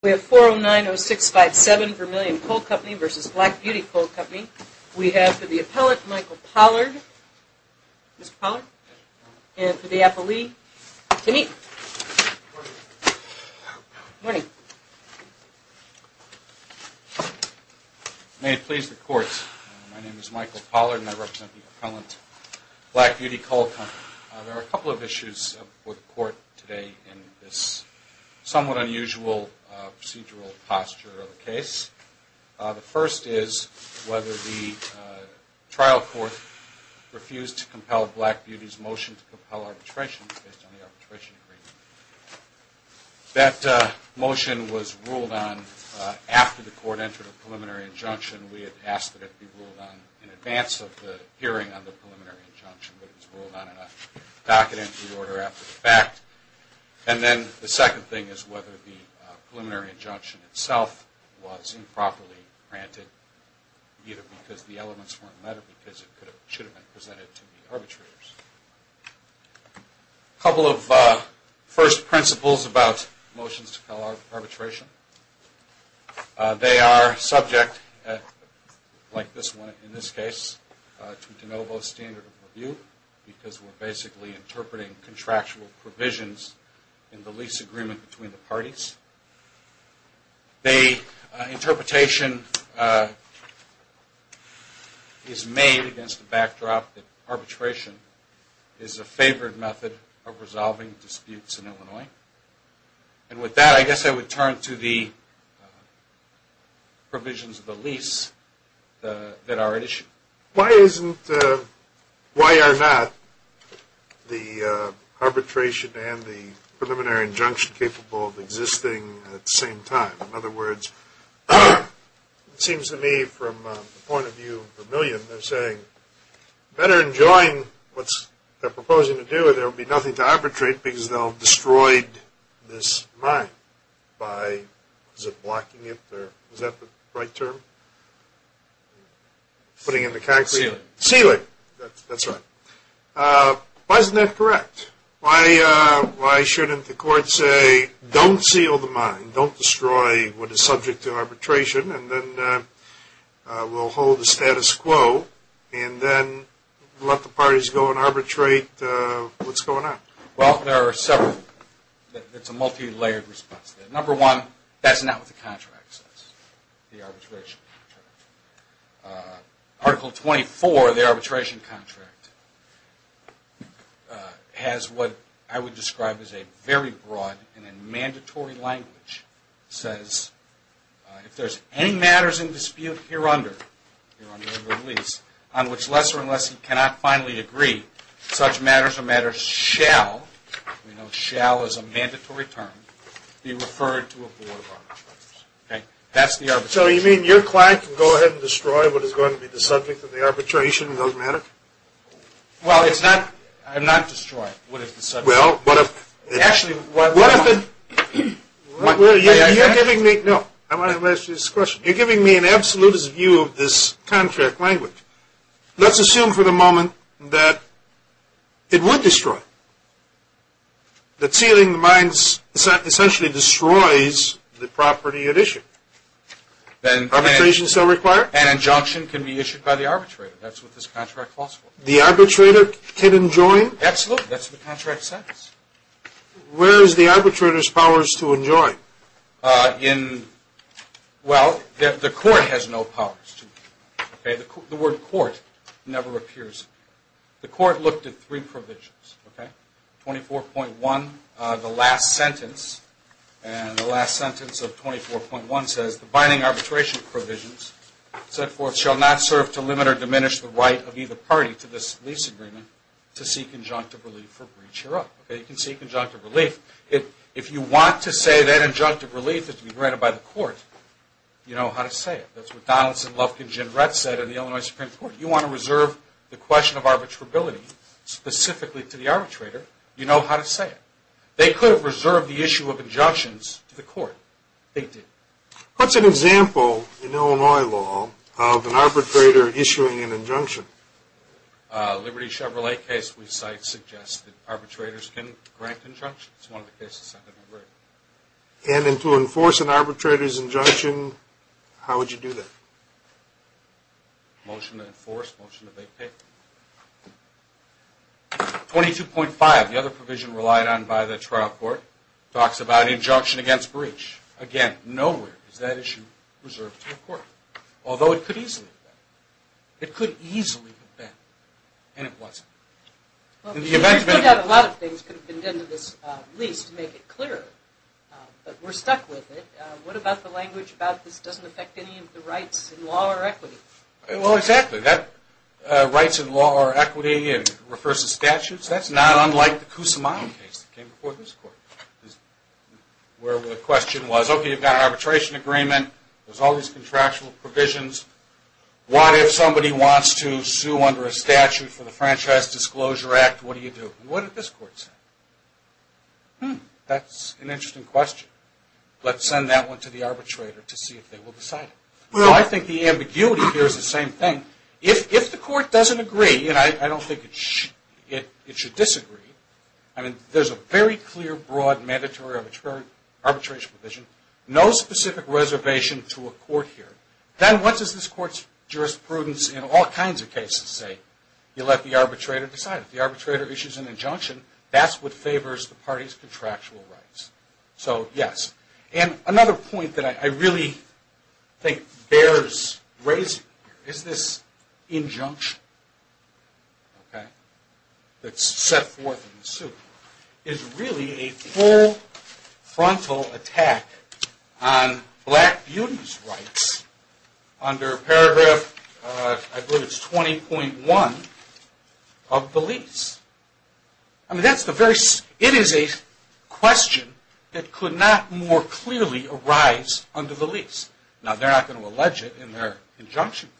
We have 4090657 Vermilion Coal Company v. Black Beauty Coal Company. We have for the appellant Michael Pollard. Mr. Pollard? And for the appellee, Kenneth. Good morning. May it please the Court. My name is Michael Pollard and I represent the appellant, Black Beauty Coal Company. There are a couple of issues before the Court today in this somewhat unusual procedural posture of the case. The first is whether the trial court refused to compel Black Beauty's motion to compel arbitration based on the arbitration agreement. That motion was ruled on after the Court entered a preliminary injunction. We had asked that it be ruled on in advance of the hearing on the preliminary injunction, but it was ruled on in a docket entry order after the fact. And then the second thing is whether the preliminary injunction itself was improperly granted, either because the elements weren't met or because it should have been presented to the arbitrators. A couple of first principles about motions to compel arbitration. They are subject, like this one in this case, to interpretation because we're basically interpreting contractual provisions in the lease agreement between the parties. The interpretation is made against the backdrop that arbitration is a favored method of resolving disputes in Illinois. And with that, I guess I would turn to the provisions of the lease that are at issue. Why are not the arbitration and the preliminary injunction capable of existing at the same time? In other words, it seems to me from the point of view of Vermillion, they're saying better enjoy what they're proposing to do or there will be nothing to arbitrate because they'll destroy this mine by, is it blocking it? Is that the right term? Putting in the concrete? Sealing. Sealing. That's right. Why isn't that correct? Why shouldn't the court say don't seal the mine, don't destroy what is subject to arbitration, and then we'll hold the status quo and then let the parties go and arbitrate what's going on? Well, there are several. It's a multi-layered response. Number one, that's not what the contract says, the arbitration contract. Article 24 of the arbitration contract has what I would describe as a very broad and a mandatory language. It says, if there's any matters in dispute here under the lease, on which lesser and lesser cannot finally agree, such matters or matters shall, we know shall is a mandatory term, be referred to a board of arbitrators. Okay? That's the arbitration. So you mean your client can go ahead and destroy what is going to be the subject of the arbitration and doesn't matter? Well, it's not, I'm not destroying what is the subject. Well, what if Actually What if it, you're giving me, no, I want to ask you this question. You're giving me an absolutist view of this contract language. Let's assume for the moment that it would destroy. That sealing the mines essentially destroys the property at issue. Then Arbitration is still required? An injunction can be issued by the arbitrator. That's what this contract calls for. The arbitrator can enjoin? Absolutely. That's what the contract says. Where is the arbitrator's powers to enjoin? In, well, the court has no powers to enjoin. Okay? The word court never appears. The court looked at three provisions, okay? 24.1, the last sentence, and the last sentence of 24.1 says the binding arbitration provisions set forth shall not serve to limit or diminish the right of either party to this lease agreement to seek conjunctive relief for breach hereof. You can seek conjunctive relief. If you want to say that injunctive relief is to be granted by the court, you know how to say it. That's what Donaldson, Lufkin, and Jim Rett said in the Illinois Supreme Court. You want to reserve the question of arbitrability specifically to the arbitrator, you know how to say it. They could have reserved the issue of injunctions to the court. They didn't. What's an example in Illinois law of an arbitrator issuing an injunction? A Liberty Chevrolet case we cite suggests that arbitrators can grant injunctions. It's one of the cases I've never heard of. And to enforce an arbitrator's injunction, how would you do that? Motion to enforce, motion to vacate. 22.5, the other provision relied on by the trial court, talks about injunction against breach. Again, nowhere is that issue reserved to the court, although it could easily be and it wasn't. A lot of things could have been done to this lease to make it clearer, but we're stuck with it. What about the language about this doesn't affect any of the rights in law or equity? Well, exactly. Rights in law or equity, it refers to statutes. That's not unlike the Kusumano case that came before this court, where the question was, okay, you've got an arbitration agreement, there's all these contractual provisions, what if somebody wants to sue under a statute for the Franchise Disclosure Act, what do you do? What did this court say? Hmm, that's an interesting question. Let's send that one to the arbitrator to see if they will decide it. I think the ambiguity here is the same thing. If the court doesn't agree, and I don't think it should disagree, I mean, there's a very clear, broad, mandatory arbitration provision, no specific reservation to a court here, then what does this court's jurisprudence in all kinds of cases say? You let the arbitrator decide. If the arbitrator issues an injunction, that's what favors the party's contractual rights. So, yes. And another point that I really think bears raising here is this injunction that's set forth in the suit is really a full frontal attack on black beauty's rights under paragraph, I believe it's 20.1, of the lease. I mean, it is a question that could not more clearly arise under the lease. Now, they're not going to allege it in their injunction,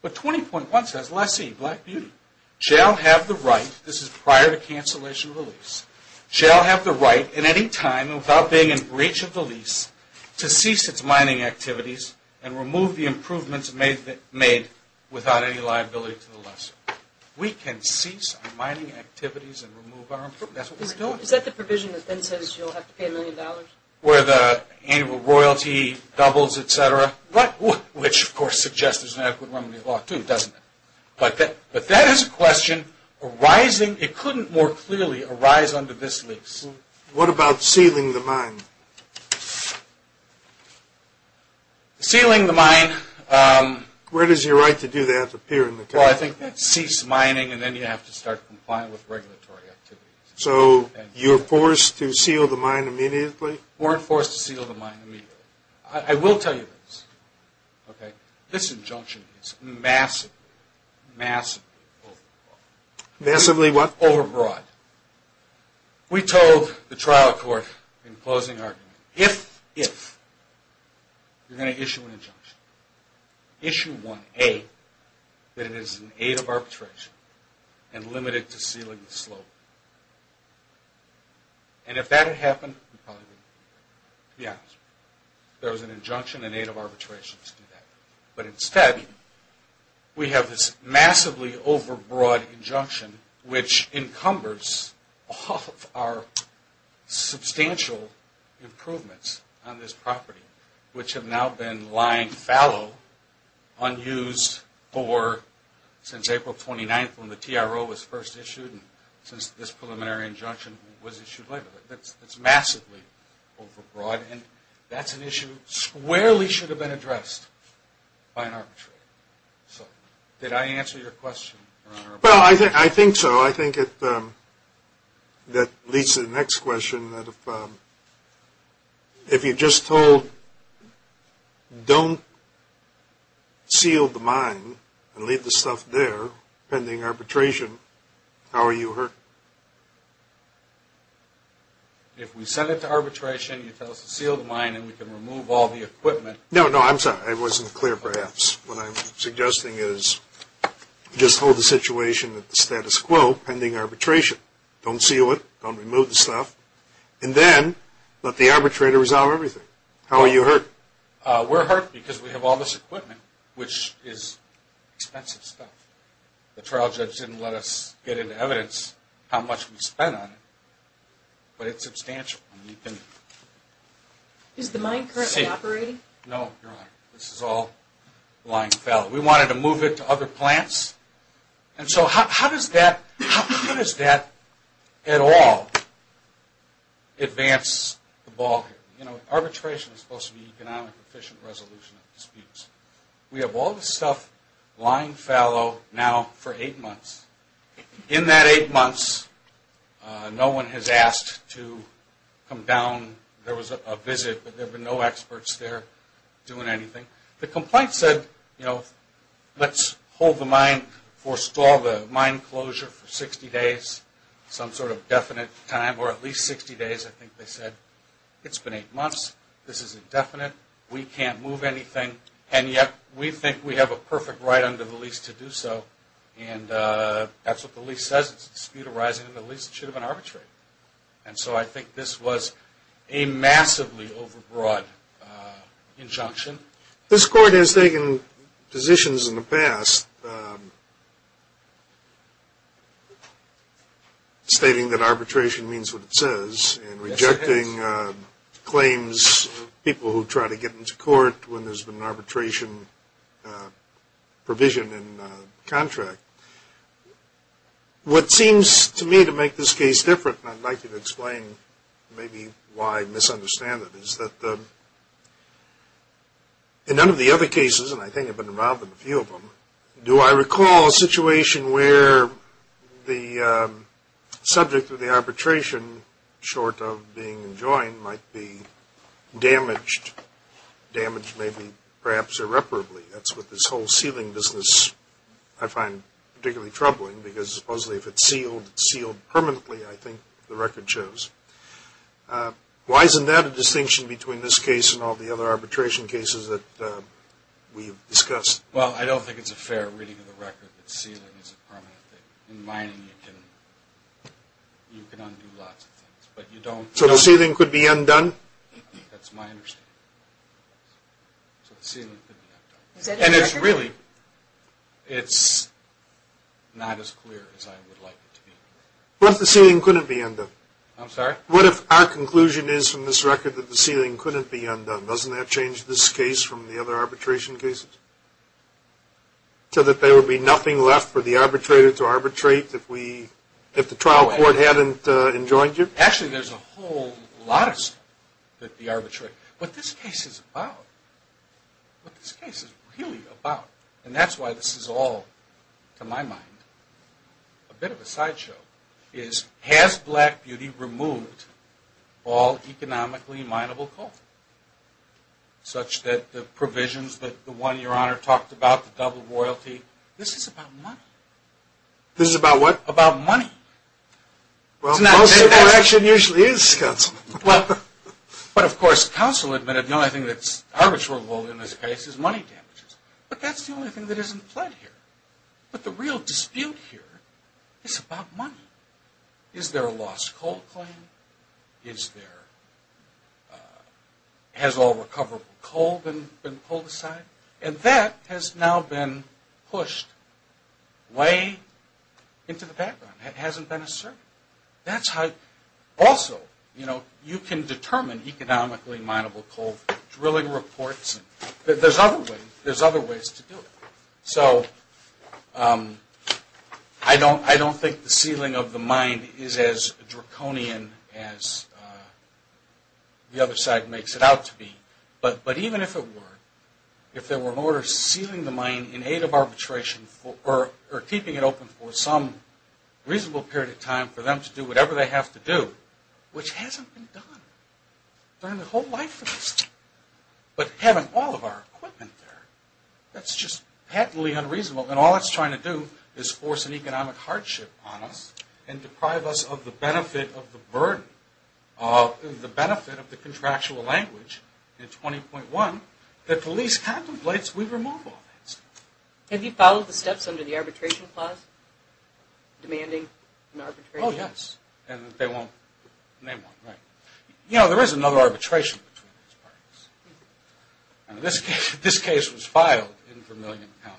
but 20.1 says, lessee, black beauty, shall have the right, this is prior to cancellation of the lease, shall have the right at any time without being in breach of the lease to cease its mining activities and remove the improvements made without any liability to the lessee. We can cease our mining activities and remove our improvements. Is that the provision that then says you'll have to pay a million dollars? Where the annual royalty doubles, etc. What? Which, of course, suggests there's an adequate remedy to the law, too, doesn't it? But that is a question arising, it couldn't more clearly arise under this lease. What about sealing the mine? Sealing the mine. Where does your right to do that appear in the contract? Well, I think that's cease mining and then you have to start complying with regulatory activities. So, you're forced to seal the mine immediately? You weren't forced to seal the mine immediately. I will tell you this, okay, this injunction is massively, massively overbroad. Massively what? Overbroad. We told the trial court in closing argument, if, if, you're going to issue an injunction, issue one, A, that it is an aid of arbitration and limited to sealing the slope. And if that had happened, yeah, there was an injunction, an aid of arbitration to do that. But instead, we have this massively overbroad injunction which encumbers all of our substantial improvements on this property, which have now been lying fallow, unused for since April 29th when the TRO was first issued and since this preliminary injunction was issued later. That's massively overbroad and that's an issue squarely should have been addressed by an arbitrator. So, did I answer your question, Your Honor? Well, I think so. I think that leads to the next question. If you just told, don't seal the mine and leave the stuff there, pending arbitration, how are you hurting? If we send it to arbitration, you tell us to seal the mine and we can remove all the equipment. No, no, I'm sorry, I wasn't clear perhaps. What I'm suggesting is just hold the situation at the status quo, pending arbitration. Don't seal it, don't remove the stuff, and then let the arbitrator resolve everything. How are you hurting? We're hurting because we have all this equipment, which is expensive stuff. The trial judge didn't let us get into evidence how much we spent on it, but it's substantial. Is the mine currently operating? No, Your Honor, this is all lying fallow. We wanted to move it to other plants, and so how does that at all advance the ballgame? Arbitration is supposed to be economic efficient resolution of disputes. We have all this stuff lying fallow now for eight months. In that eight months, no one has asked to come down. There was a visit, but there have been no experts there doing anything. The complaint said, you know, let's hold the mine, forestall the mine closure for 60 days, some sort of definite time, or at least 60 days. I think they said, it's been eight months, this is indefinite, we can't move anything, and yet we think we have a perfect right under the lease to do so, and that's what the lease says. It's a dispute arising under the lease, it should have been arbitrated. And so I think this was a massively overbroad injunction. This Court has taken positions in the past stating that arbitration means what it says, and rejecting claims, people who try to get into court when there's been an arbitration provision in contract. What seems to me to make this case different, and I'd like to explain maybe why I misunderstand it, is that in none of the other cases, and I think I've been involved in a few of them, do I recall a situation where the subject of the arbitration, short of being enjoined, might be damaged, damaged maybe perhaps irreparably. That's what this whole sealing business I find particularly troubling, because supposedly if it's sealed, it's sealed permanently, I think the record shows. Why isn't that a distinction between this case and all the other arbitration cases that we've discussed? Well, I don't think it's a fair reading of the record that sealing is a permanent thing. In mining, you can undo lots of things, but you don't... So the sealing could be undone? That's my understanding. So the sealing could be undone. And it's really, it's not as clear as I would like it to be. What if the sealing couldn't be undone? I'm sorry? What if our conclusion is from this record that the sealing couldn't be undone? Doesn't that change this case from the other arbitration cases? So that there would be nothing left for the arbitrator to arbitrate if the trial court hadn't enjoined you? Actually, there's a whole lot of stuff that the arbitrator... What this case is about, what this case is really about, and that's why this is all, to my mind, a bit of a sideshow, is has Black Beauty removed all economically mineable coal? Such that the provisions that the one your Honor talked about, the double royalty, this is about money. This is about what? About money. Well, most of the action usually is, Counsel. Well, but of course, Counsel admitted the only thing that's arbitrable in this case is money damages. But that's the only thing that isn't fled here. But the real dispute here is about money. Is there a lost coal claim? Is there... Has all recoverable coal been pulled aside? And that has now been pushed way into the background. It hasn't been asserted. That's how... Also, you know, you can determine economically mineable coal drilling reports. There's other ways to do it. So I don't think the ceiling of the mine is as draconian as the other side makes it out to be. But even if it were, if there were an order sealing the mine in aid of arbitration or keeping it open for some reasonable period of time for them to do whatever they have to do, which hasn't been done during the whole life of this state. But having all of our equipment there, that's just patently unreasonable. And all it's trying to do is force an economic hardship on us and deprive us of the benefit of the burden, the benefit of the contractual language in 20.1 that police contemplates we remove all that stuff. Have you followed the steps under the arbitration clause demanding an arbitration? Oh, yes. And they won't name one, right. You know, there is another arbitration between these parties. This case was filed in Vermillion County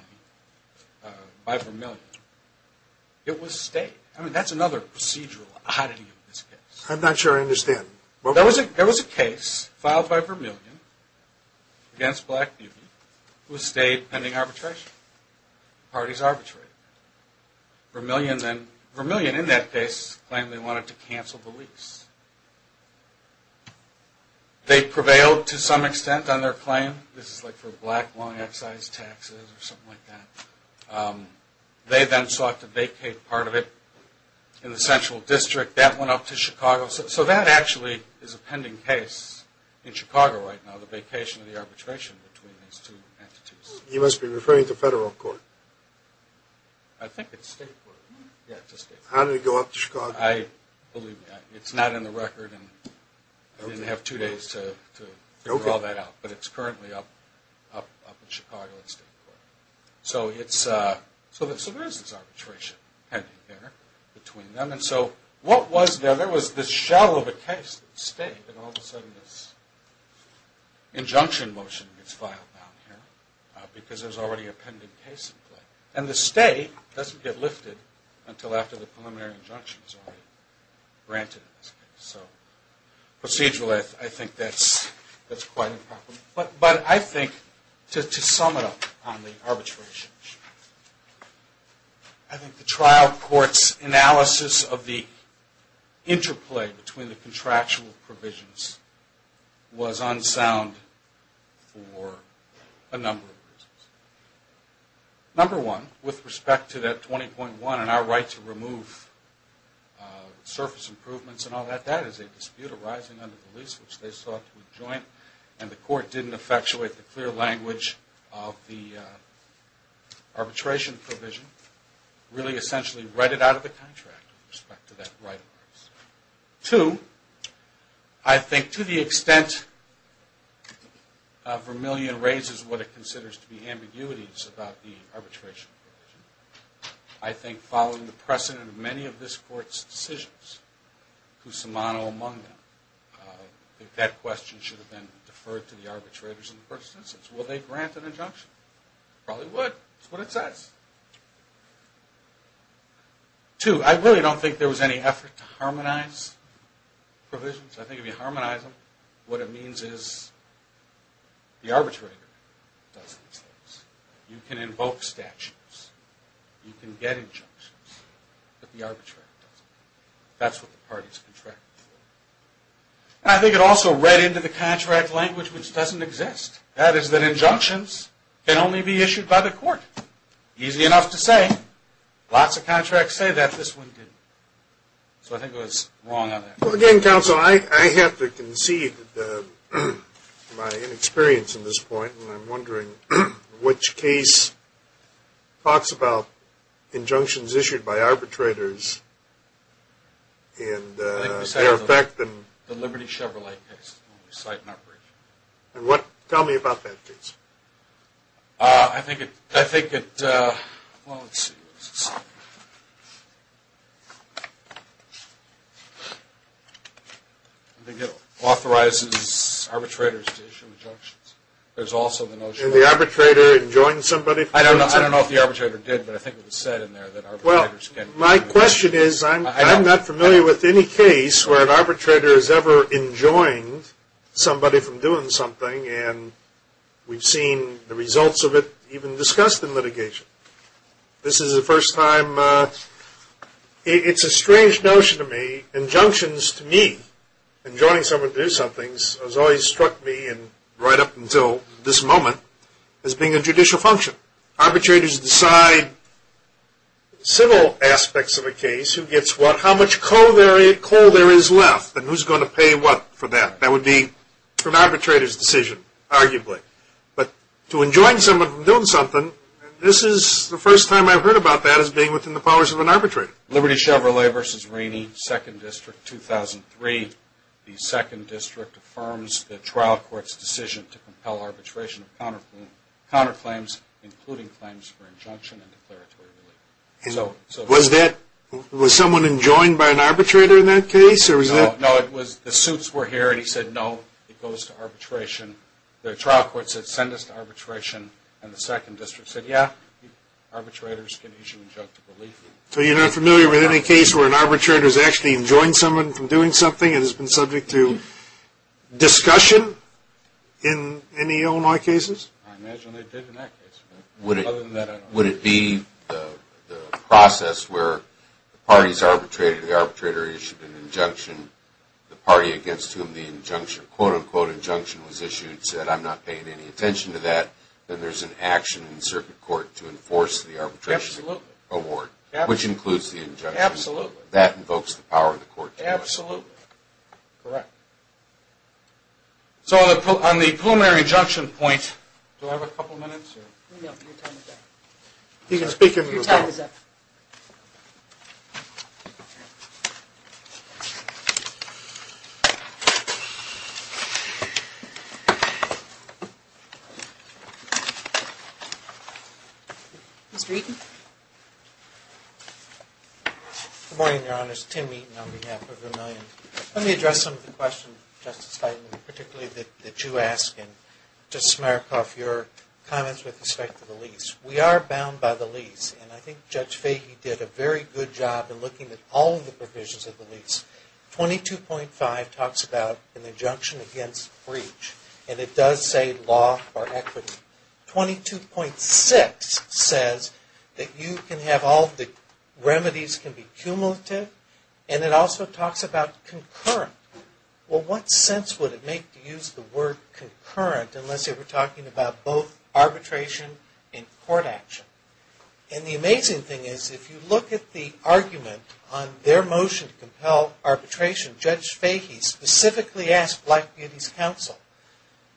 by Vermillion. It was state. I mean, that's another procedural oddity of this case. I'm not sure I understand. There was a case filed by Vermillion against Black Newby. It was state pending arbitration. The parties arbitrated. Vermillion then, Vermillion in that case claimed they wanted to cancel the lease. They prevailed to some extent on their claim. This is like for black long excise taxes or something like that. They then sought to vacate part of it in the central district. That went up to Chicago. So that actually is a pending case in Chicago right now, the vacation of the arbitration between these two entities. You must be referring to federal court. I think it's state court. How did it go up to Chicago? I believe it's not in the record. I didn't have two days to draw that out, but it's currently up in Chicago in state court. So there is this arbitration pending there between them. And so what was there? There was this shell of a case that was state, and all of a sudden this injunction motion gets filed down here because there's already a pending case in play. And the state doesn't get lifted until after the preliminary injunction is already granted in this case. So procedurally I think that's quite a problem. But I think to sum it up on the arbitration issue, I think the trial court's analysis of the interplay between the contractual Number one, with respect to that 20.1 and our right to remove surface improvements and all that, that is a dispute arising under the lease which they sought to adjoin, and the court didn't effectuate the clear language of the arbitration provision. Really essentially read it out of the contract with respect to that right. Two, I think to the extent Vermillion raises what it considers to be ambiguities about the arbitration provision, I think following the precedent of many of this court's decisions, who's somano among them, that question should have been deferred to the arbitrators in the first instance. Will they grant an injunction? Probably would. That's what it says. Two, I really don't think there was any effort to harmonize provisions. I think if you harmonize them, what it means is the arbitrator does these things. You can invoke statutes. You can get injunctions, but the arbitrator doesn't. That's what the parties contracted for. I think it also read into the contract language which doesn't exist. That is that injunctions can only be issued by the court. Easy enough to say. Lots of contracts say that. This one didn't. So I think it was wrong on that. Again, Counsel, I have to concede my inexperience in this point. I'm wondering which case talks about injunctions issued by arbitrators and their effect. The Liberty Chevrolet case. Tell me about that case. I think it authorizes arbitrators to issue injunctions. There's also the notion. Did the arbitrator enjoin somebody from doing something? I don't know if the arbitrator did, but I think it was said in there that arbitrators can't. Well, my question is I'm not familiar with any case where an arbitrator has ever enjoined somebody from doing something, and we've seen the results of it even discussed in litigation. This is the first time. It's a strange notion to me. Injunctions to me, enjoining someone to do something, has always struck me right up until this moment as being a judicial function. Arbitrators decide civil aspects of a case, who gets what, how much coal there is left, and who's going to pay what for that. That would be an arbitrator's decision, arguably. But to enjoin someone from doing something, this is the first time I've heard about that as being within the powers of an arbitrator. Liberty Chevrolet v. Rainey, 2nd District, 2003. The 2nd District affirms the trial court's decision to compel arbitration of counterclaims, including claims for injunction and declaratory relief. Was someone enjoined by an arbitrator in that case? No, the suits were here, and he said, no, it goes to arbitration. The trial court said, send us to arbitration, and the 2nd District said, yeah, arbitrators can issue injunctive relief. So you're not familiar with any case where an arbitrator's actually enjoined someone from doing something and has been subject to discussion in any Illinois cases? I imagine they did in that case. Other than that, I don't know. Would it be the process where the parties arbitrated, the arbitrator issued an injunction, the party against whom the quote-unquote injunction was issued said, I'm not paying any attention to that, then there's an action in the circuit court to enforce the arbitration award, which includes the injunction. Absolutely. That invokes the power of the court to do so. Absolutely. Correct. So on the preliminary injunction point... Do I have a couple minutes? No, your time is up. You can speak if you want. Your time is up. Mr. Eaton? Good morning, Your Honors. Tim Eaton on behalf of Vermillion. Let me address some of the questions, Justice Feiglin, particularly that you ask, and Justice Smirnoff, your comments with respect to the lease. We are bound by the lease, and I think Judge Feiglin did a very good job in looking at all of the provisions of the lease. 22.5 talks about an injunction against breach, and it does say law or equity. 22.6 says that you can have all the remedies can be cumulative, and it also talks about concurrent. Well, what sense would it make to use the word concurrent unless you were talking about both arbitration and court action? And the amazing thing is if you look at the argument on their motion to compel arbitration, Judge Feiglin specifically asked Black Beauty's counsel,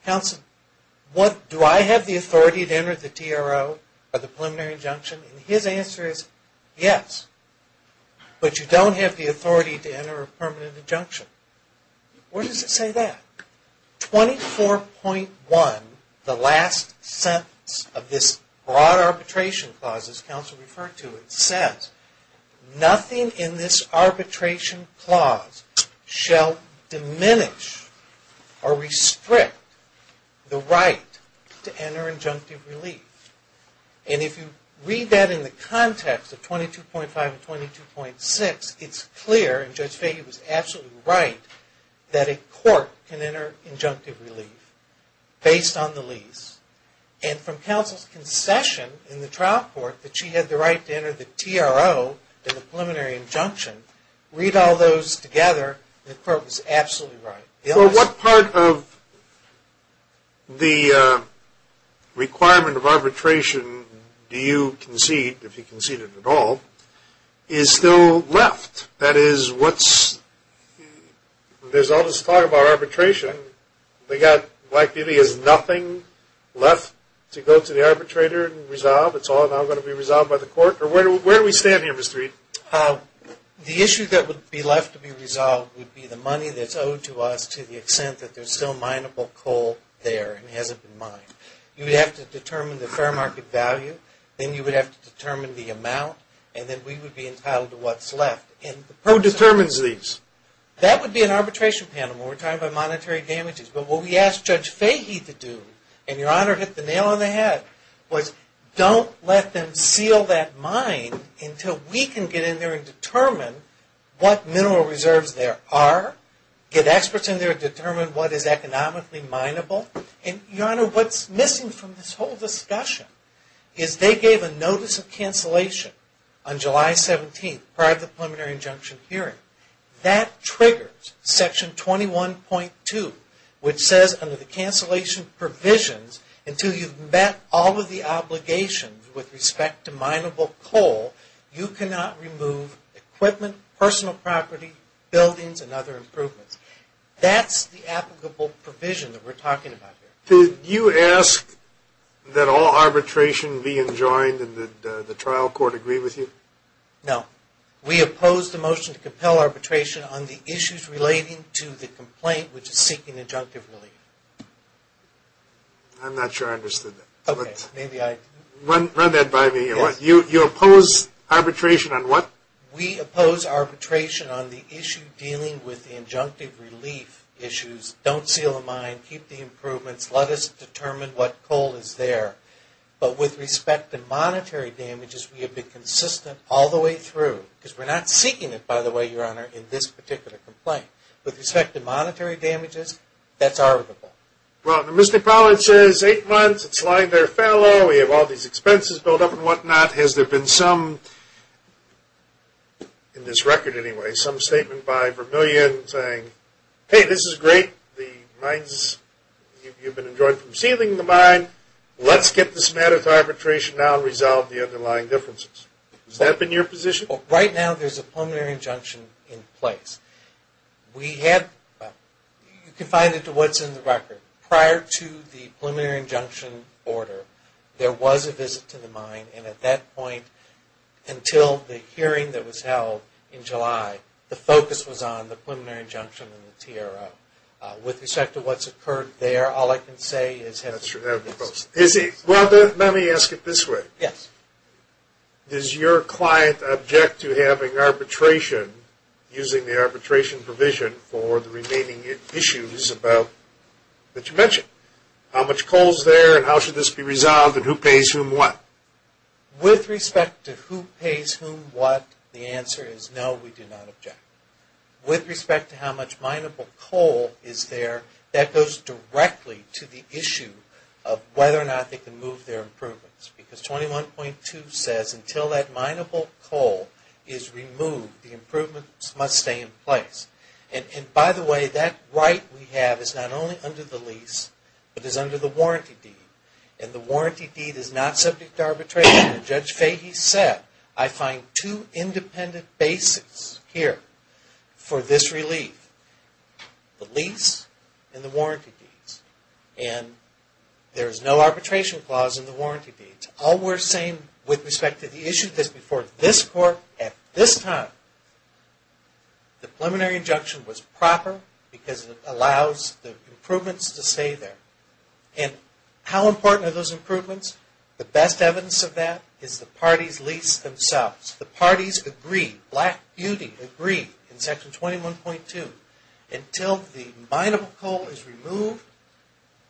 counsel, do I have the authority to enter the TRO or the preliminary injunction? Where does it say that? 24.1, the last sentence of this broad arbitration clause, as counsel referred to, it says nothing in this arbitration clause shall diminish or restrict the right to enter injunctive relief. And if you read that in the context of 22.5 and 22.6, it's clear, and Judge Feiglin was absolutely right, that a court can enter injunctive relief based on the lease. And from counsel's concession in the trial court that she had the right to enter the TRO and the preliminary injunction, read all those together, the court was absolutely right. So what part of the requirement of arbitration do you concede, if you concede it at all, is still left? That is, there's all this talk about arbitration. Black Beauty has nothing left to go to the arbitrator and resolve. It's all now going to be resolved by the court? Or where do we stand here, Mr. Reid? The issue that would be left to be resolved would be the money that's owed to us to the extent that there's still mineable coal there and hasn't been mined. You would have to determine the fair market value. Then you would have to determine the amount. And then we would be entitled to what's left. Who determines these? That would be an arbitration panel. We're talking about monetary damages. But what we asked Judge Fahy to do, and Your Honor hit the nail on the head, was don't let them seal that mine until we can get in there and determine what mineral reserves there are, get experts in there to determine what is economically mineable. And Your Honor, what's missing from this whole discussion is they gave a notice of cancellation on July 17th prior to the preliminary injunction hearing. That triggers Section 21.2, which says under the cancellation provisions, until you've met all of the obligations with respect to mineable coal, you cannot remove equipment, personal property, buildings, and other improvements. That's the applicable provision that we're talking about here. Did you ask that all arbitration be enjoined and did the trial court agree with you? No. We oppose the motion to compel arbitration on the issues relating to the complaint, which is seeking injunctive relief. I'm not sure I understood that. Okay. Run that by me. You oppose arbitration on what? We oppose arbitration on the issue dealing with the injunctive relief issues. Don't seal the mine. Keep the improvements. Let us determine what coal is there. But with respect to monetary damages, we have been consistent all the way through. Because we're not seeking it, by the way, Your Honor, in this particular complaint. With respect to monetary damages, that's arbitrable. Well, the Missionary College says eight months. It's lying there failure. We have all these expenses built up and whatnot. Has there been some, in this record anyway, some statement by Vermillion saying, hey, this is great. You've been enjoined from sealing the mine. Let's get this matter to arbitration now and resolve the underlying differences. Has that been your position? Right now, there's a preliminary injunction in place. You can find it to what's in the record. And at that point, until the hearing that was held in July, the focus was on the preliminary injunction and the TRO. With respect to what's occurred there, all I can say is have it proposed. Well, let me ask it this way. Yes. Does your client object to having arbitration, using the arbitration provision for the remaining issues that you mentioned? How much coal is there and how should this be resolved and who pays whom what? With respect to who pays whom what, the answer is no, we do not object. With respect to how much mineable coal is there, that goes directly to the issue of whether or not they can move their improvements. Because 21.2 says until that mineable coal is removed, the improvements must stay in place. And by the way, that right we have is not only under the lease, but is under the warranty deed. And the warranty deed is not subject to arbitration. As Judge Fahy said, I find two independent bases here for this relief. The lease and the warranty deeds. And there is no arbitration clause in the warranty deeds. All we're saying with respect to the issue that's before this court at this time, the preliminary injunction was proper because it allows the improvements to stay there. And how important are those improvements? The best evidence of that is the parties' lease themselves. The parties agreed, Black Beauty agreed in Section 21.2, until the mineable coal is removed,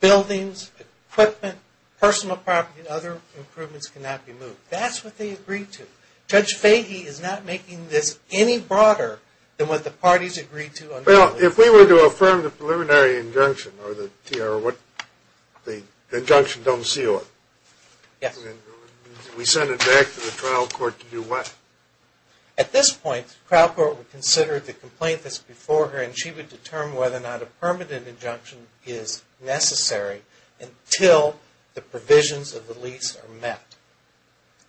buildings, equipment, personal property and other improvements cannot be moved. That's what they agreed to. Judge Fahy is not making this any broader than what the parties agreed to. Well, if we were to affirm the preliminary injunction or what the injunction don't seal it, we send it back to the trial court to do what? At this point, the trial court would consider the complaint that's before her and she would determine whether or not a permanent injunction is necessary until the provisions of the lease are met.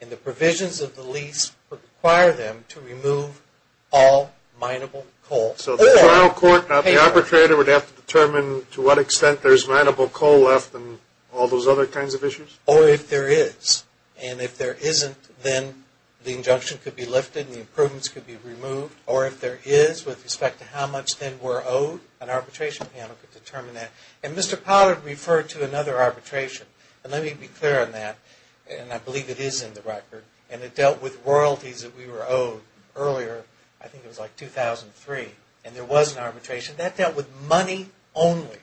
And the provisions of the lease require them to remove all mineable coal. So the trial court, the arbitrator would have to determine to what extent there's mineable coal left and all those other kinds of issues? Or if there is. And if there isn't, then the injunction could be lifted, the improvements could be removed. Or if there is with respect to how much they were owed, an arbitration panel could determine that. And Mr. Potter referred to another arbitration. And let me be clear on that. And I believe it is in the record. And it dealt with royalties that we were owed earlier. I think it was like 2003. And there was an arbitration. That dealt with money only.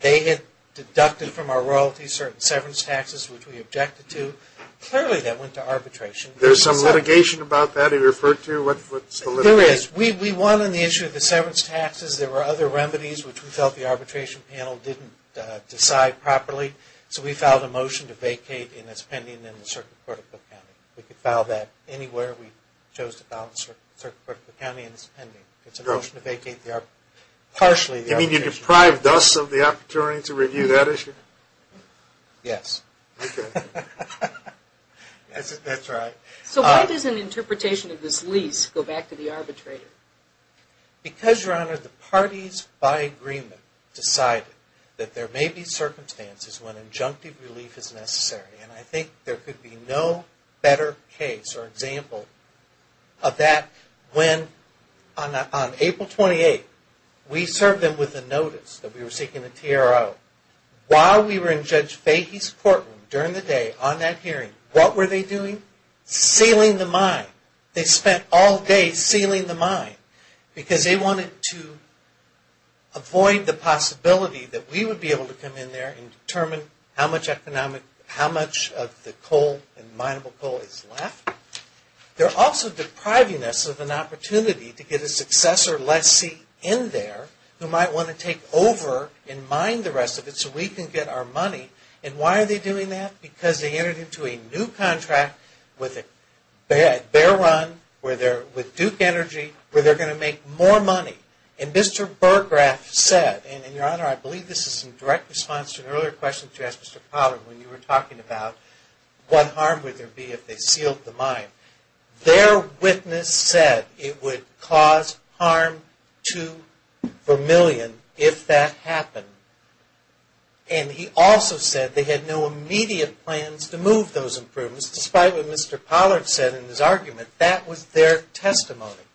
They had deducted from our royalties certain severance taxes which we objected to. Clearly that went to arbitration. There's some litigation about that you referred to? There is. We won on the issue of the severance taxes. There were other remedies which we felt the arbitration panel didn't decide properly. So we filed a motion to vacate. And it's pending in the Circuit Court of Cook County. We could file that anywhere we chose to file in the Circuit Court of Cook County. And it's pending. It's a motion to vacate partially the arbitration. You mean you deprived us of the opportunity to review that issue? Yes. Okay. That's right. So why does an interpretation of this lease go back to the arbitrator? Because, Your Honor, the parties by agreement decided that there may be circumstances when injunctive relief is necessary. And I think there could be no better case or example of that when on April 28th, we served them with a notice that we were seeking a TRO. While we were in Judge Fahey's courtroom during the day on that hearing, what were they doing? Sealing the mine. They spent all day sealing the mine because they wanted to avoid the possibility that we would be able to come in there and determine how much of the coal and mineable coal is left. They're also depriving us of an opportunity to get a successor lessee in there who might want to take over and mine the rest of it so we can get our money. And why are they doing that? Because they entered into a new contract with Bear Run, with Duke Energy, where they're going to make more money. And Mr. Burgraff said, and, Your Honor, I believe this is in direct response to an earlier question that you asked Mr. Pollard when you were talking about what harm would there be if they sealed the mine. Their witness said it would cause harm to Vermillion if that happened. And he also said they had no immediate plans to move those improvements, despite what Mr. Pollard said in his argument. That was their testimony.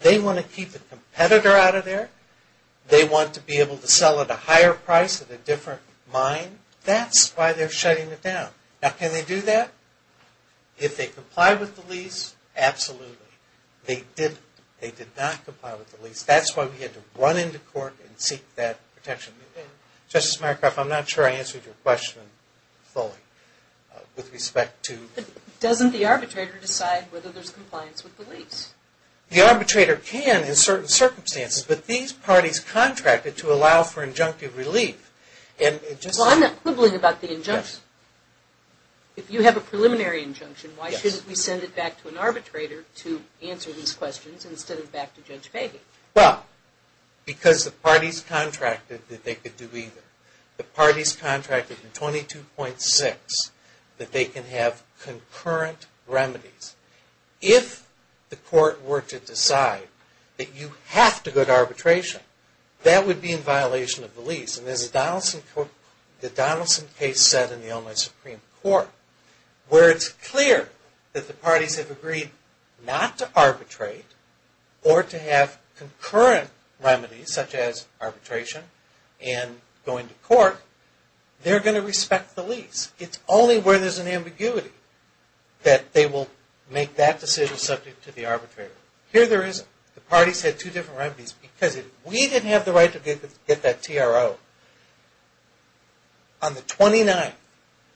They want to keep the competitor out of there. They want to be able to sell at a higher price at a different mine. That's why they're shutting it down. Now, can they do that? If they comply with the lease, absolutely. They didn't. They did not comply with the lease. That's why we had to run into court and seek that protection. Justice Mycroft, I'm not sure I answered your question fully with respect to – But doesn't the arbitrator decide whether there's compliance with the lease? The arbitrator can in certain circumstances, but these parties contracted to allow for injunctive relief. Well, I'm not quibbling about the injunction. If you have a preliminary injunction, why shouldn't we send it back to an arbitrator to answer these questions instead of back to Judge Peggy? Well, because the parties contracted that they could do either. The parties contracted in 22.6 that they can have concurrent remedies. If the court were to decide that you have to go to arbitration, that would be in violation of the lease. And as the Donaldson case said in the Illinois Supreme Court, where it's clear that the parties have agreed not to arbitrate or to have concurrent remedies such as arbitration and going to court, they're going to respect the lease. It's only where there's an ambiguity that they will make that decision subject to the arbitrator. Here there isn't. The parties had two different remedies. Because if we didn't have the right to get that TRO, on the 29th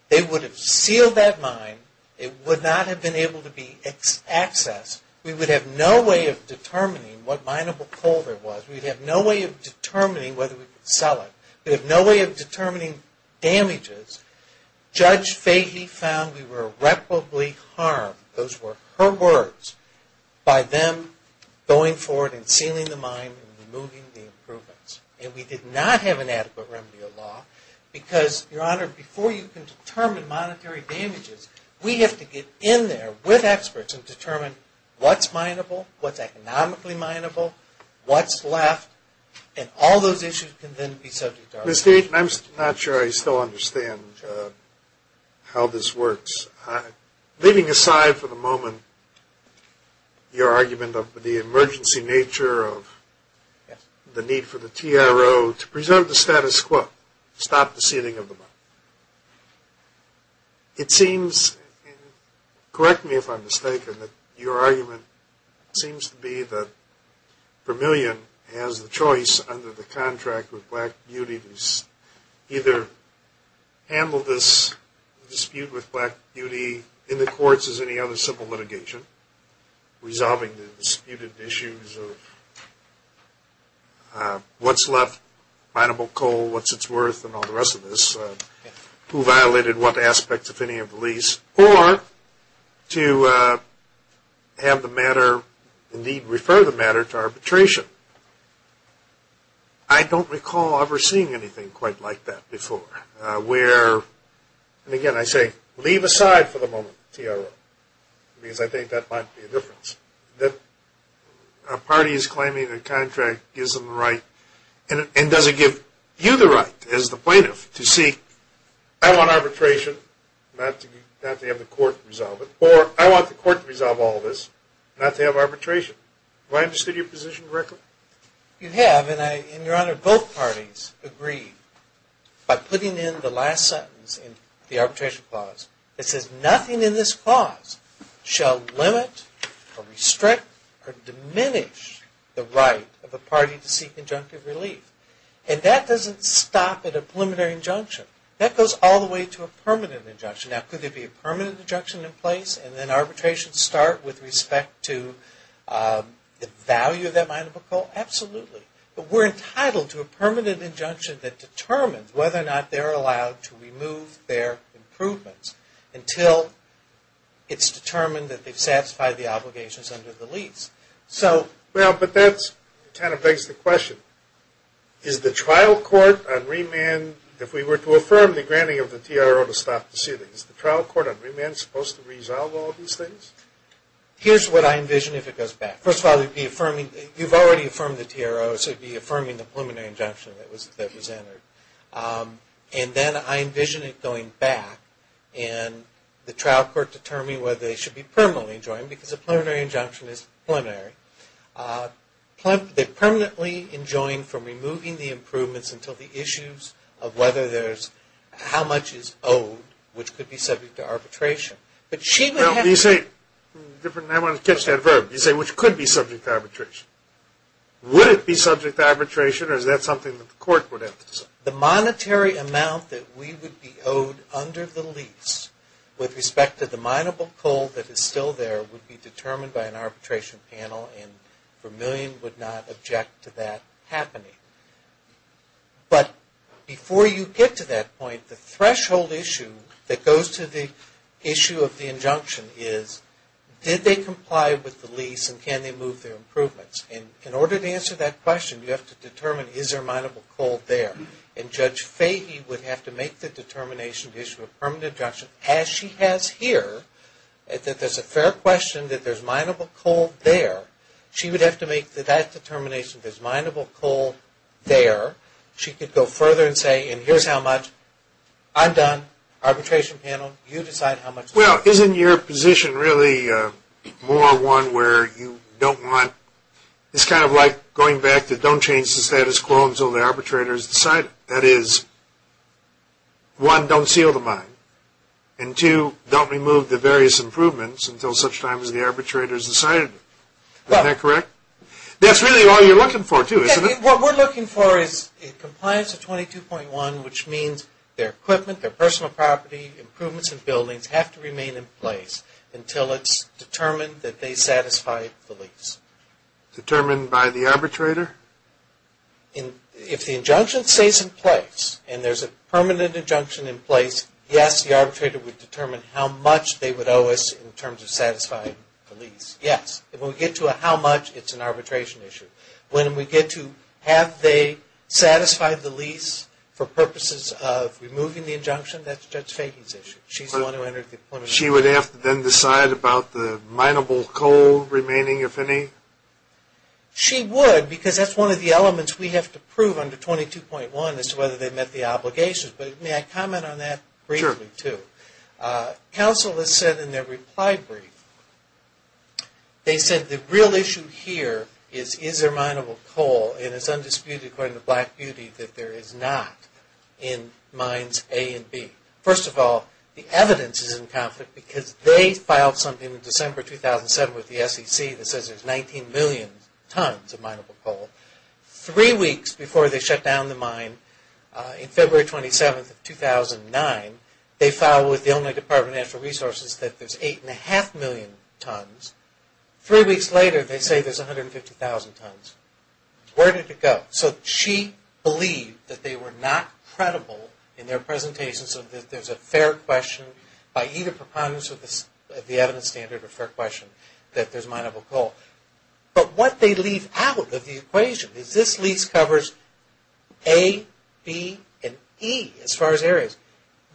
they would have sealed that mine. It would not have been able to be accessed. We would have no way of determining what mineable coal there was. We'd have no way of determining whether we could sell it. We'd have no way of determining damages. Judge Fahey found we were irreparably harmed, those were her words, by them going forward and sealing the mine and removing the improvements. And we did not have an adequate remedy of law because, Your Honor, before you can determine monetary damages, we have to get in there with experts and determine what's mineable, what's economically mineable, what's left, and all those issues can then be subject to arbitration. Ms. Dayton, I'm not sure I still understand how this works. Leaving aside for the moment your argument of the emergency nature of the need for the TRO to preserve the status quo, stop the sealing of the mine. It seems, and correct me if I'm mistaken, that your argument seems to be that Vermillion has the choice under the contract with Black Beauty to either handle this dispute with Black Beauty in the courts as any other civil litigation, resolving the disputed issues of what's left, mineable coal, what's it's worth, and all the rest of this, who violated what aspects, if any, of the lease, or to have the matter, indeed refer the matter, to arbitration. I don't recall ever seeing anything quite like that before. And again, I say, leave aside for the moment TRO, because I think that might be a difference. That a party is claiming the contract gives them the right, and does it give you the right as the plaintiff to say, I want arbitration, not to have the court resolve it, or I want the court to resolve all this, not to have arbitration. Have I understood your position correctly? You have, and, Your Honor, both parties agree. By putting in the last sentence in the arbitration clause, it says nothing in this clause shall limit, or restrict, or diminish the right of a party to seek injunctive relief. And that doesn't stop at a preliminary injunction. That goes all the way to a permanent injunction. Now, could there be a permanent injunction in place, and then arbitration start with respect to the value of that mineable coal? Absolutely. But we're entitled to a permanent injunction that determines whether or not they're allowed to remove their improvements until it's determined that they've satisfied the obligations under the lease. Well, but that kind of begs the question. Is the trial court on remand, if we were to affirm the granting of the TRO to stop the ceiling, is the trial court on remand supposed to resolve all these things? Here's what I envision if it goes back. First of all, you've already affirmed the TRO, so you'd be affirming the preliminary injunction that was entered. And then I envision it going back, and the trial court determining whether they should be permanently enjoined, because a preliminary injunction is preliminary. They're permanently enjoined from removing the improvements until the issues of whether there's how much is owed, which could be subject to arbitration. I want to catch that verb. You say, which could be subject to arbitration. Would it be subject to arbitration, or is that something that the court would have to say? The monetary amount that we would be owed under the lease with respect to the mineable coal that is still there would be determined by an arbitration panel, and Vermillion would not object to that happening. But before you get to that point, the threshold issue that goes to the issue of the injunction is, did they comply with the lease, and can they move their improvements? In order to answer that question, you have to determine, is there mineable coal there? And Judge Fahey would have to make the determination to issue a permanent injunction, as she has here, that there's a fair question that there's mineable coal there. She would have to make that determination, there's mineable coal there. She could go further and say, and here's how much. I'm done. Arbitration panel, you decide how much. Well, isn't your position really more one where you don't want, it's kind of like going back to don't change the status quo until the arbitrator has decided. That is, one, don't seal the mine, and two, don't remove the various improvements until such time as the arbitrator has decided. That's really all you're looking for, too, isn't it? What we're looking for is a compliance of 22.1, which means their equipment, their personal property, improvements in buildings have to remain in place until it's determined that they satisfy the lease. Determined by the arbitrator? If the injunction stays in place, and there's a permanent injunction in place, yes, the arbitrator would determine how much they would owe us in terms of satisfying the lease, yes. When we get to a how much, it's an arbitration issue. When we get to have they satisfied the lease for purposes of removing the injunction, that's Judge Fahey's issue. She's the one who entered the appointment. She would have to then decide about the mineable coal remaining, if any? She would, because that's one of the elements we have to prove under 22.1 as to whether they've met the obligations. But may I comment on that briefly, too? Sure. Counsel has said in their reply brief, they said the real issue here is, is there mineable coal? And it's undisputed, according to Black Beauty, that there is not in Mines A and B. First of all, the evidence is in conflict because they filed something in December 2007 with the SEC that says there's 19 million tons of mineable coal. Three weeks before they shut down the mine, in February 27, 2009, they filed with the only Department of Natural Resources that there's 8.5 million tons. Three weeks later, they say there's 150,000 tons. Where did it go? So she believed that they were not credible in their presentation so that there's a fair question, by either preponderance of the evidence standard or fair question, that there's mineable coal. But what they leave out of the equation is, this lease covers A, B, and E as far as areas.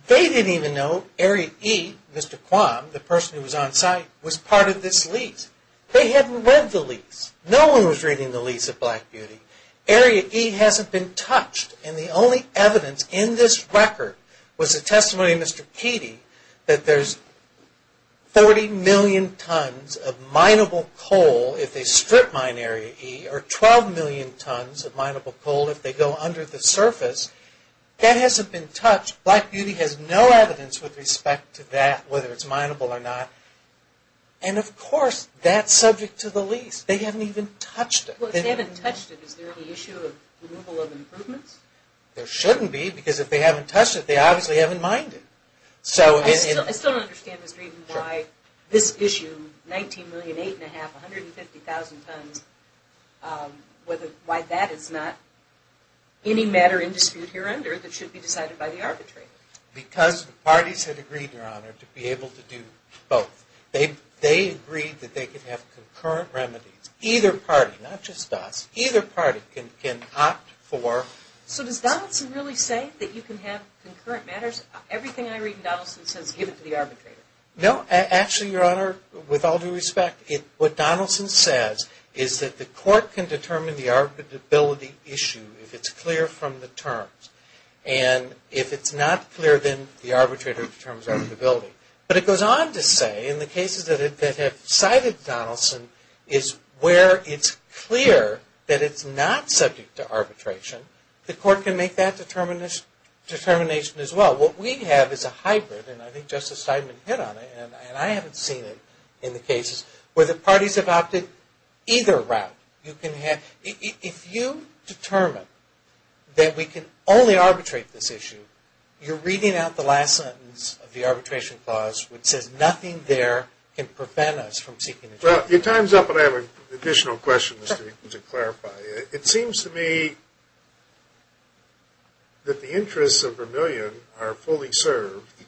They didn't even know Area E, Mr. Quam, the person who was on site, was part of this lease. They hadn't read the lease. No one was reading the lease of Black Beauty. Area E hasn't been touched, and the only evidence in this record was the testimony of Mr. Keady that there's 40 million tons of mineable coal if they strip mine Area E, or 12 million tons of mineable coal if they go under the surface. That hasn't been touched. Black Beauty has no evidence with respect to that, whether it's mineable or not. And of course, that's subject to the lease. They haven't even touched it. Well, if they haven't touched it, is there any issue of removal of improvements? There shouldn't be, because if they haven't touched it, they obviously haven't mined it. I still don't understand, Mr. Eden, why this issue, 19 million, 8.5 million, 150,000 tons, why that is not any matter in dispute here under that should be decided by the arbitrator. Because the parties had agreed, Your Honor, to be able to do both. They agreed that they could have concurrent remedies. Either party, not just us, either party can opt for... So does Donaldson really say that you can have concurrent matters? Everything I read in Donaldson says give it to the arbitrator. No, actually, Your Honor, with all due respect, what Donaldson says is that the court can determine the arbitrability issue if it's clear from the terms. And if it's not clear, then the arbitrator determines arbitrability. But it goes on to say, in the cases that have cited Donaldson, is where it's clear that it's not subject to arbitration, the court can make that determination as well. What we have is a hybrid, and I think Justice Steinman hit on it, and I haven't seen it in the cases where the parties have opted either route. If you determine that we can only arbitrate this issue, you're reading out the last sentence of the arbitration clause which says nothing there can prevent us from seeking a judgment. Your time's up, but I have additional questions to clarify. It seems to me that the interests of Vermillion are fully served,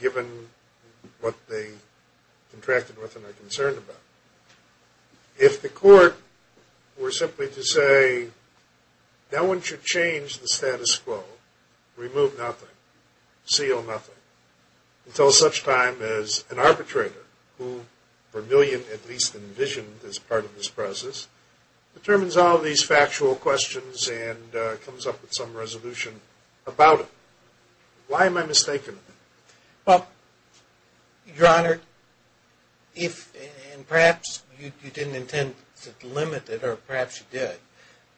given what they contracted with and are concerned about. If the court were simply to say, no one should change the status quo, remove nothing, seal nothing, until such time as an arbitrator, who Vermillion at least envisioned as part of this process, determines all these factual questions and comes up with some resolution about it. Why am I mistaken? Well, Your Honor, and perhaps you didn't intend to delimit it, or perhaps you did,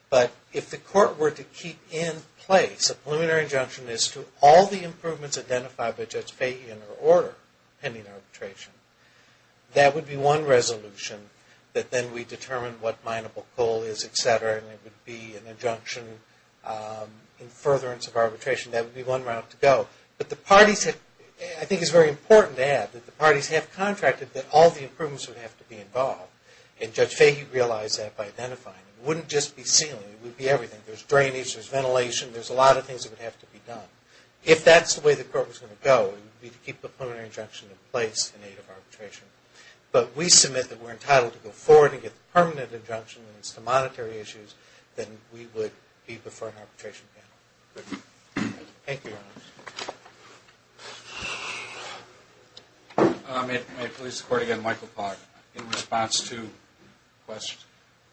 but if the court were to keep in place a preliminary injunction as to all the improvements identified by Judge Fahy in her order pending arbitration, that would be one resolution that then we determine what mineable coal is, etc., and it would be an injunction in furtherance of arbitration. That would be one route to go. But I think it's very important to add that the parties have contracted that all the improvements would have to be involved, and Judge Fahy realized that by identifying them. It wouldn't just be sealing. It would be everything. There's drainage. There's ventilation. There's a lot of things that would have to be done. If that's the way the court was going to go, it would be to keep the preliminary injunction in place in aid of arbitration. But we submit that we're entitled to go forward and get the permanent injunction, and if it's to monetary issues, then we would be before an arbitration panel. Thank you, Your Honor. May it please the Court again, Michael Clark, in response to questions.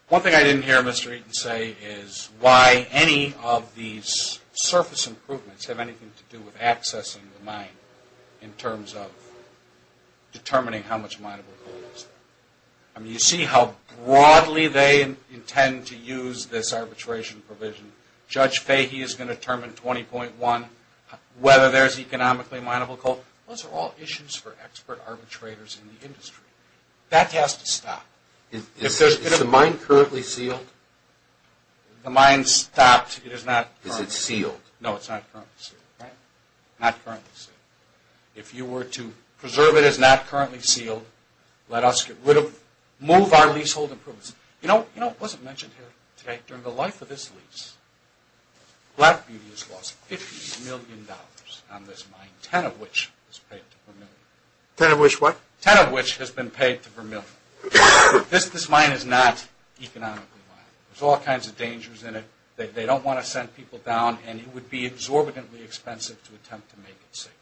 One thing I didn't hear Mr. Eaton say is why any of these surface improvements have anything to do with accessing the mine in terms of determining how much mineable coal is there. You see how broadly they intend to use this arbitration provision. Judge Fahy is going to determine 20.1, whether there's economically mineable coal. Those are all issues for expert arbitrators in the industry. That has to stop. Is the mine currently sealed? The mine stopped. It is not currently sealed. Is it sealed? No, it's not currently sealed. If you were to preserve it as not currently sealed, let us get rid of it, move our leasehold improvements. You know, it wasn't mentioned here today. During the life of this lease, Black Beauty has lost $50 million on this mine, 10 of which has been paid to Vermillion. Ten of which what? Ten of which has been paid to Vermillion. This mine is not economically mineable. There's all kinds of dangers in it. They don't want to send people down, and it would be exorbitantly expensive to attempt to make it safe.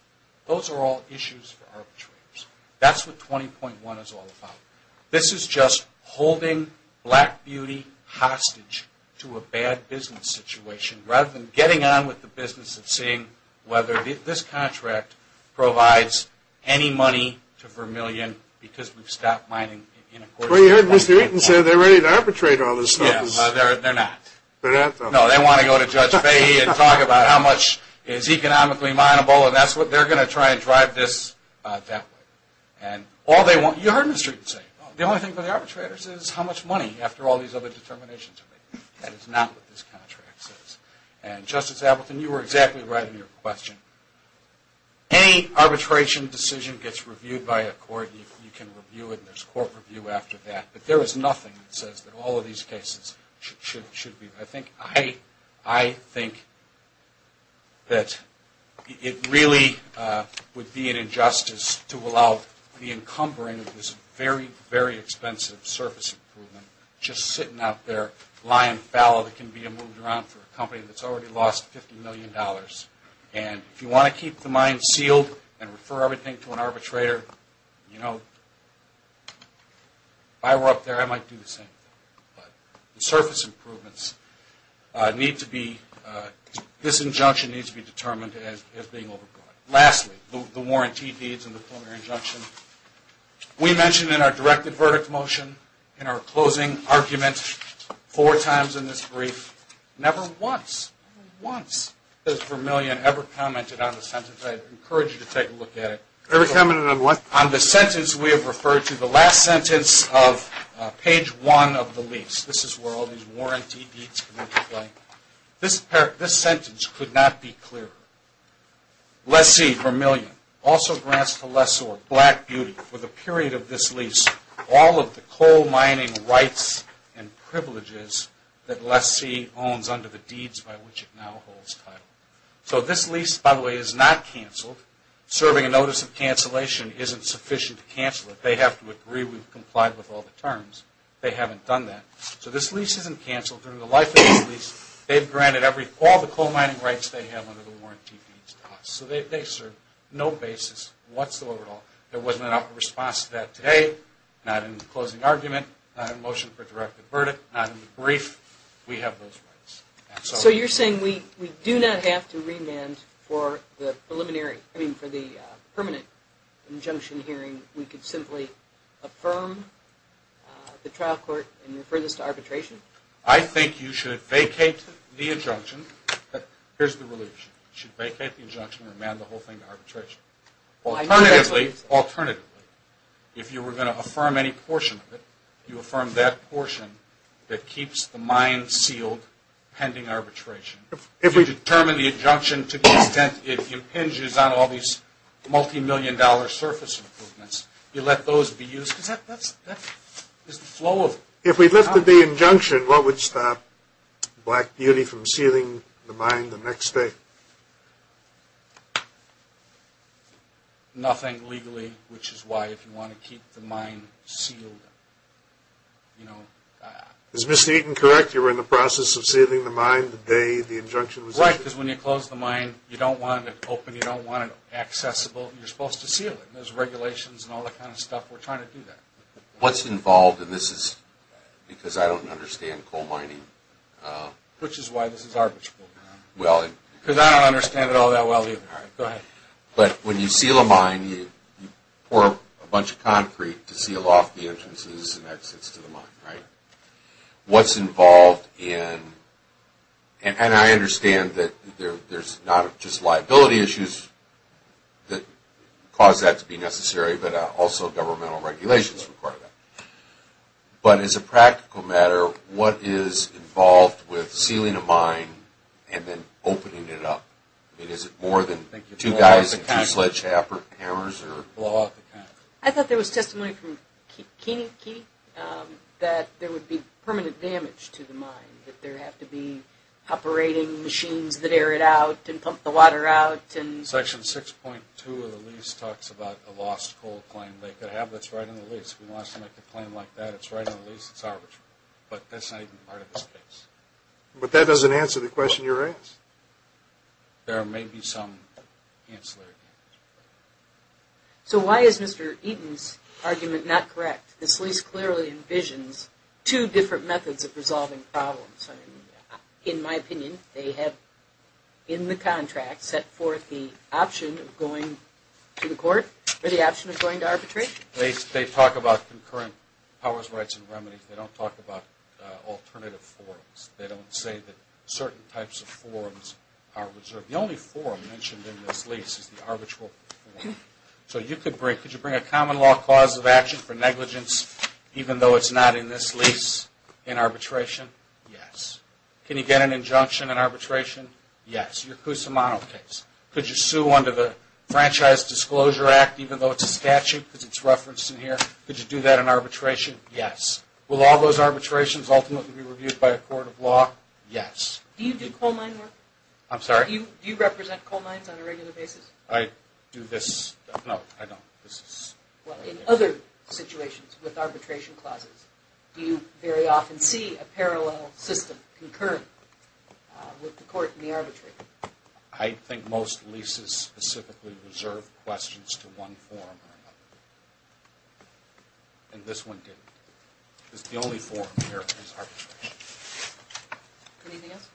Those are all issues for arbitrators. That's what 20.1 is all about. This is just holding Black Beauty hostage to a bad business situation, rather than getting on with the business and seeing whether this contract provides any money to Vermillion, because we've stopped mining in a quarter of a billion dollars. Well, you heard Mr. Eaton say they're ready to arbitrate all this stuff. Yes, they're not. They're not, though. No, they want to go to Judge Fahey and talk about how much is economically mineable, and they're going to try and drive this that way. You heard Mr. Eaton say, the only thing for the arbitrators is how much money, after all these other determinations have been made. That is not what this contract says. Justice Appleton, you were exactly right in your question. Any arbitration decision gets reviewed by a court. You can review it, and there's a court review after that, but there is nothing that says that all of these cases should be. I think that it really would be an injustice to allow the encumbering of this very, very expensive surface improvement just sitting out there, lying fallow that can be moved around for a company that's already lost $50 million. And if you want to keep the mine sealed and refer everything to an arbitrator, if I were up there, I might do the same thing. But the surface improvements need to be, this injunction needs to be determined as being overbought. Lastly, the warranty deeds and the preliminary injunction. We mentioned in our directed verdict motion, in our closing argument, four times in this brief, never once, never once has Vermillion ever commented on the sentence. I encourage you to take a look at it. Ever commented on what? On the sentence we have referred to, the last sentence of page one of the lease, this is where all these warranty deeds come into play. This sentence could not be clearer. Lessee, Vermillion, also grants to Lessor, Black Beauty, for the period of this lease, all of the coal mining rights and privileges that Lessee owns under the deeds by which it now holds title. So this lease, by the way, is not canceled. Serving a notice of cancellation isn't sufficient to cancel it. They have to agree we've complied with all the terms. They haven't done that. So this lease isn't canceled. During the life of this lease, they've granted all the coal mining rights they have under the warranty deeds to us. So they serve no basis whatsoever at all. There wasn't an output response to that today, not in the closing argument, not in the motion for a directed verdict, not in the brief. We have those rights. So you're saying we do not have to remand for the preliminary, I mean for the permanent injunction hearing. We could simply affirm the trial court and refer this to arbitration. I think you should vacate the injunction. Here's the relief. You should vacate the injunction and remand the whole thing to arbitration. Alternatively, if you were going to affirm any portion of it, you affirm that portion that keeps the mine sealed pending arbitration. If we determine the injunction to the extent it impinges on all these multimillion-dollar surface improvements, you let those be used. Because that's the flow of it. If we lifted the injunction, what would stop Black Beauty from sealing the mine the next day? Nothing legally, which is why if you want to keep the mine sealed. Is Mr. Eaton correct? You were in the process of sealing the mine the day the injunction was issued? Right, because when you close the mine, you don't want it open. You don't want it accessible. You're supposed to seal it. There's regulations and all that kind of stuff. We're trying to do that. What's involved, and this is because I don't understand coal mining. Which is why this is arbitrable. Because I don't understand it all that well either. All right, go ahead. But when you seal a mine, you pour a bunch of concrete to seal off the entrances and exits to the mine, right? What's involved in, and I understand that there's not just liability issues that cause that to be necessary, but also governmental regulations require that. But as a practical matter, what is involved with sealing a mine and then opening it up? Is it more than two guys and two sledgehammers? I thought there was testimony from Keeney that there would be permanent damage to the mine, that there have to be operating machines that air it out and pump the water out. Section 6.2 of the lease talks about a lost coal claim. They could have this right on the lease. If we want to make a claim like that, it's right on the lease, it's arbitrable. But that's not even part of this case. But that doesn't answer the question you're asking. There may be some ancillary damage. So why is Mr. Eaton's argument not correct? This lease clearly envisions two different methods of resolving problems. In my opinion, they have in the contract set forth the option of going to the court or the option of going to arbitration. They talk about concurrent powers, rights, and remedies. They don't talk about alternative forms. They don't say that certain types of forms are reserved. The only form mentioned in this lease is the arbitral form. So could you bring a common law cause of action for negligence, even though it's not in this lease, in arbitration? Yes. Can you get an injunction in arbitration? Yes. Your Cusimano case. Could you sue under the Franchise Disclosure Act, even though it's a statute because it's referenced in here? Could you do that in arbitration? Yes. Will all those arbitrations ultimately be reviewed by a court of law? Yes. Do you do coal mine work? I'm sorry? Do you represent coal mines on a regular basis? I do this. No, I don't. Well, in other situations with arbitration clauses, do you very often see a parallel system, concurrent with the court and the arbitrator? I think most leases specifically reserve questions to one form or another. And this one didn't. It's the only form here that has arbitration. Anything else?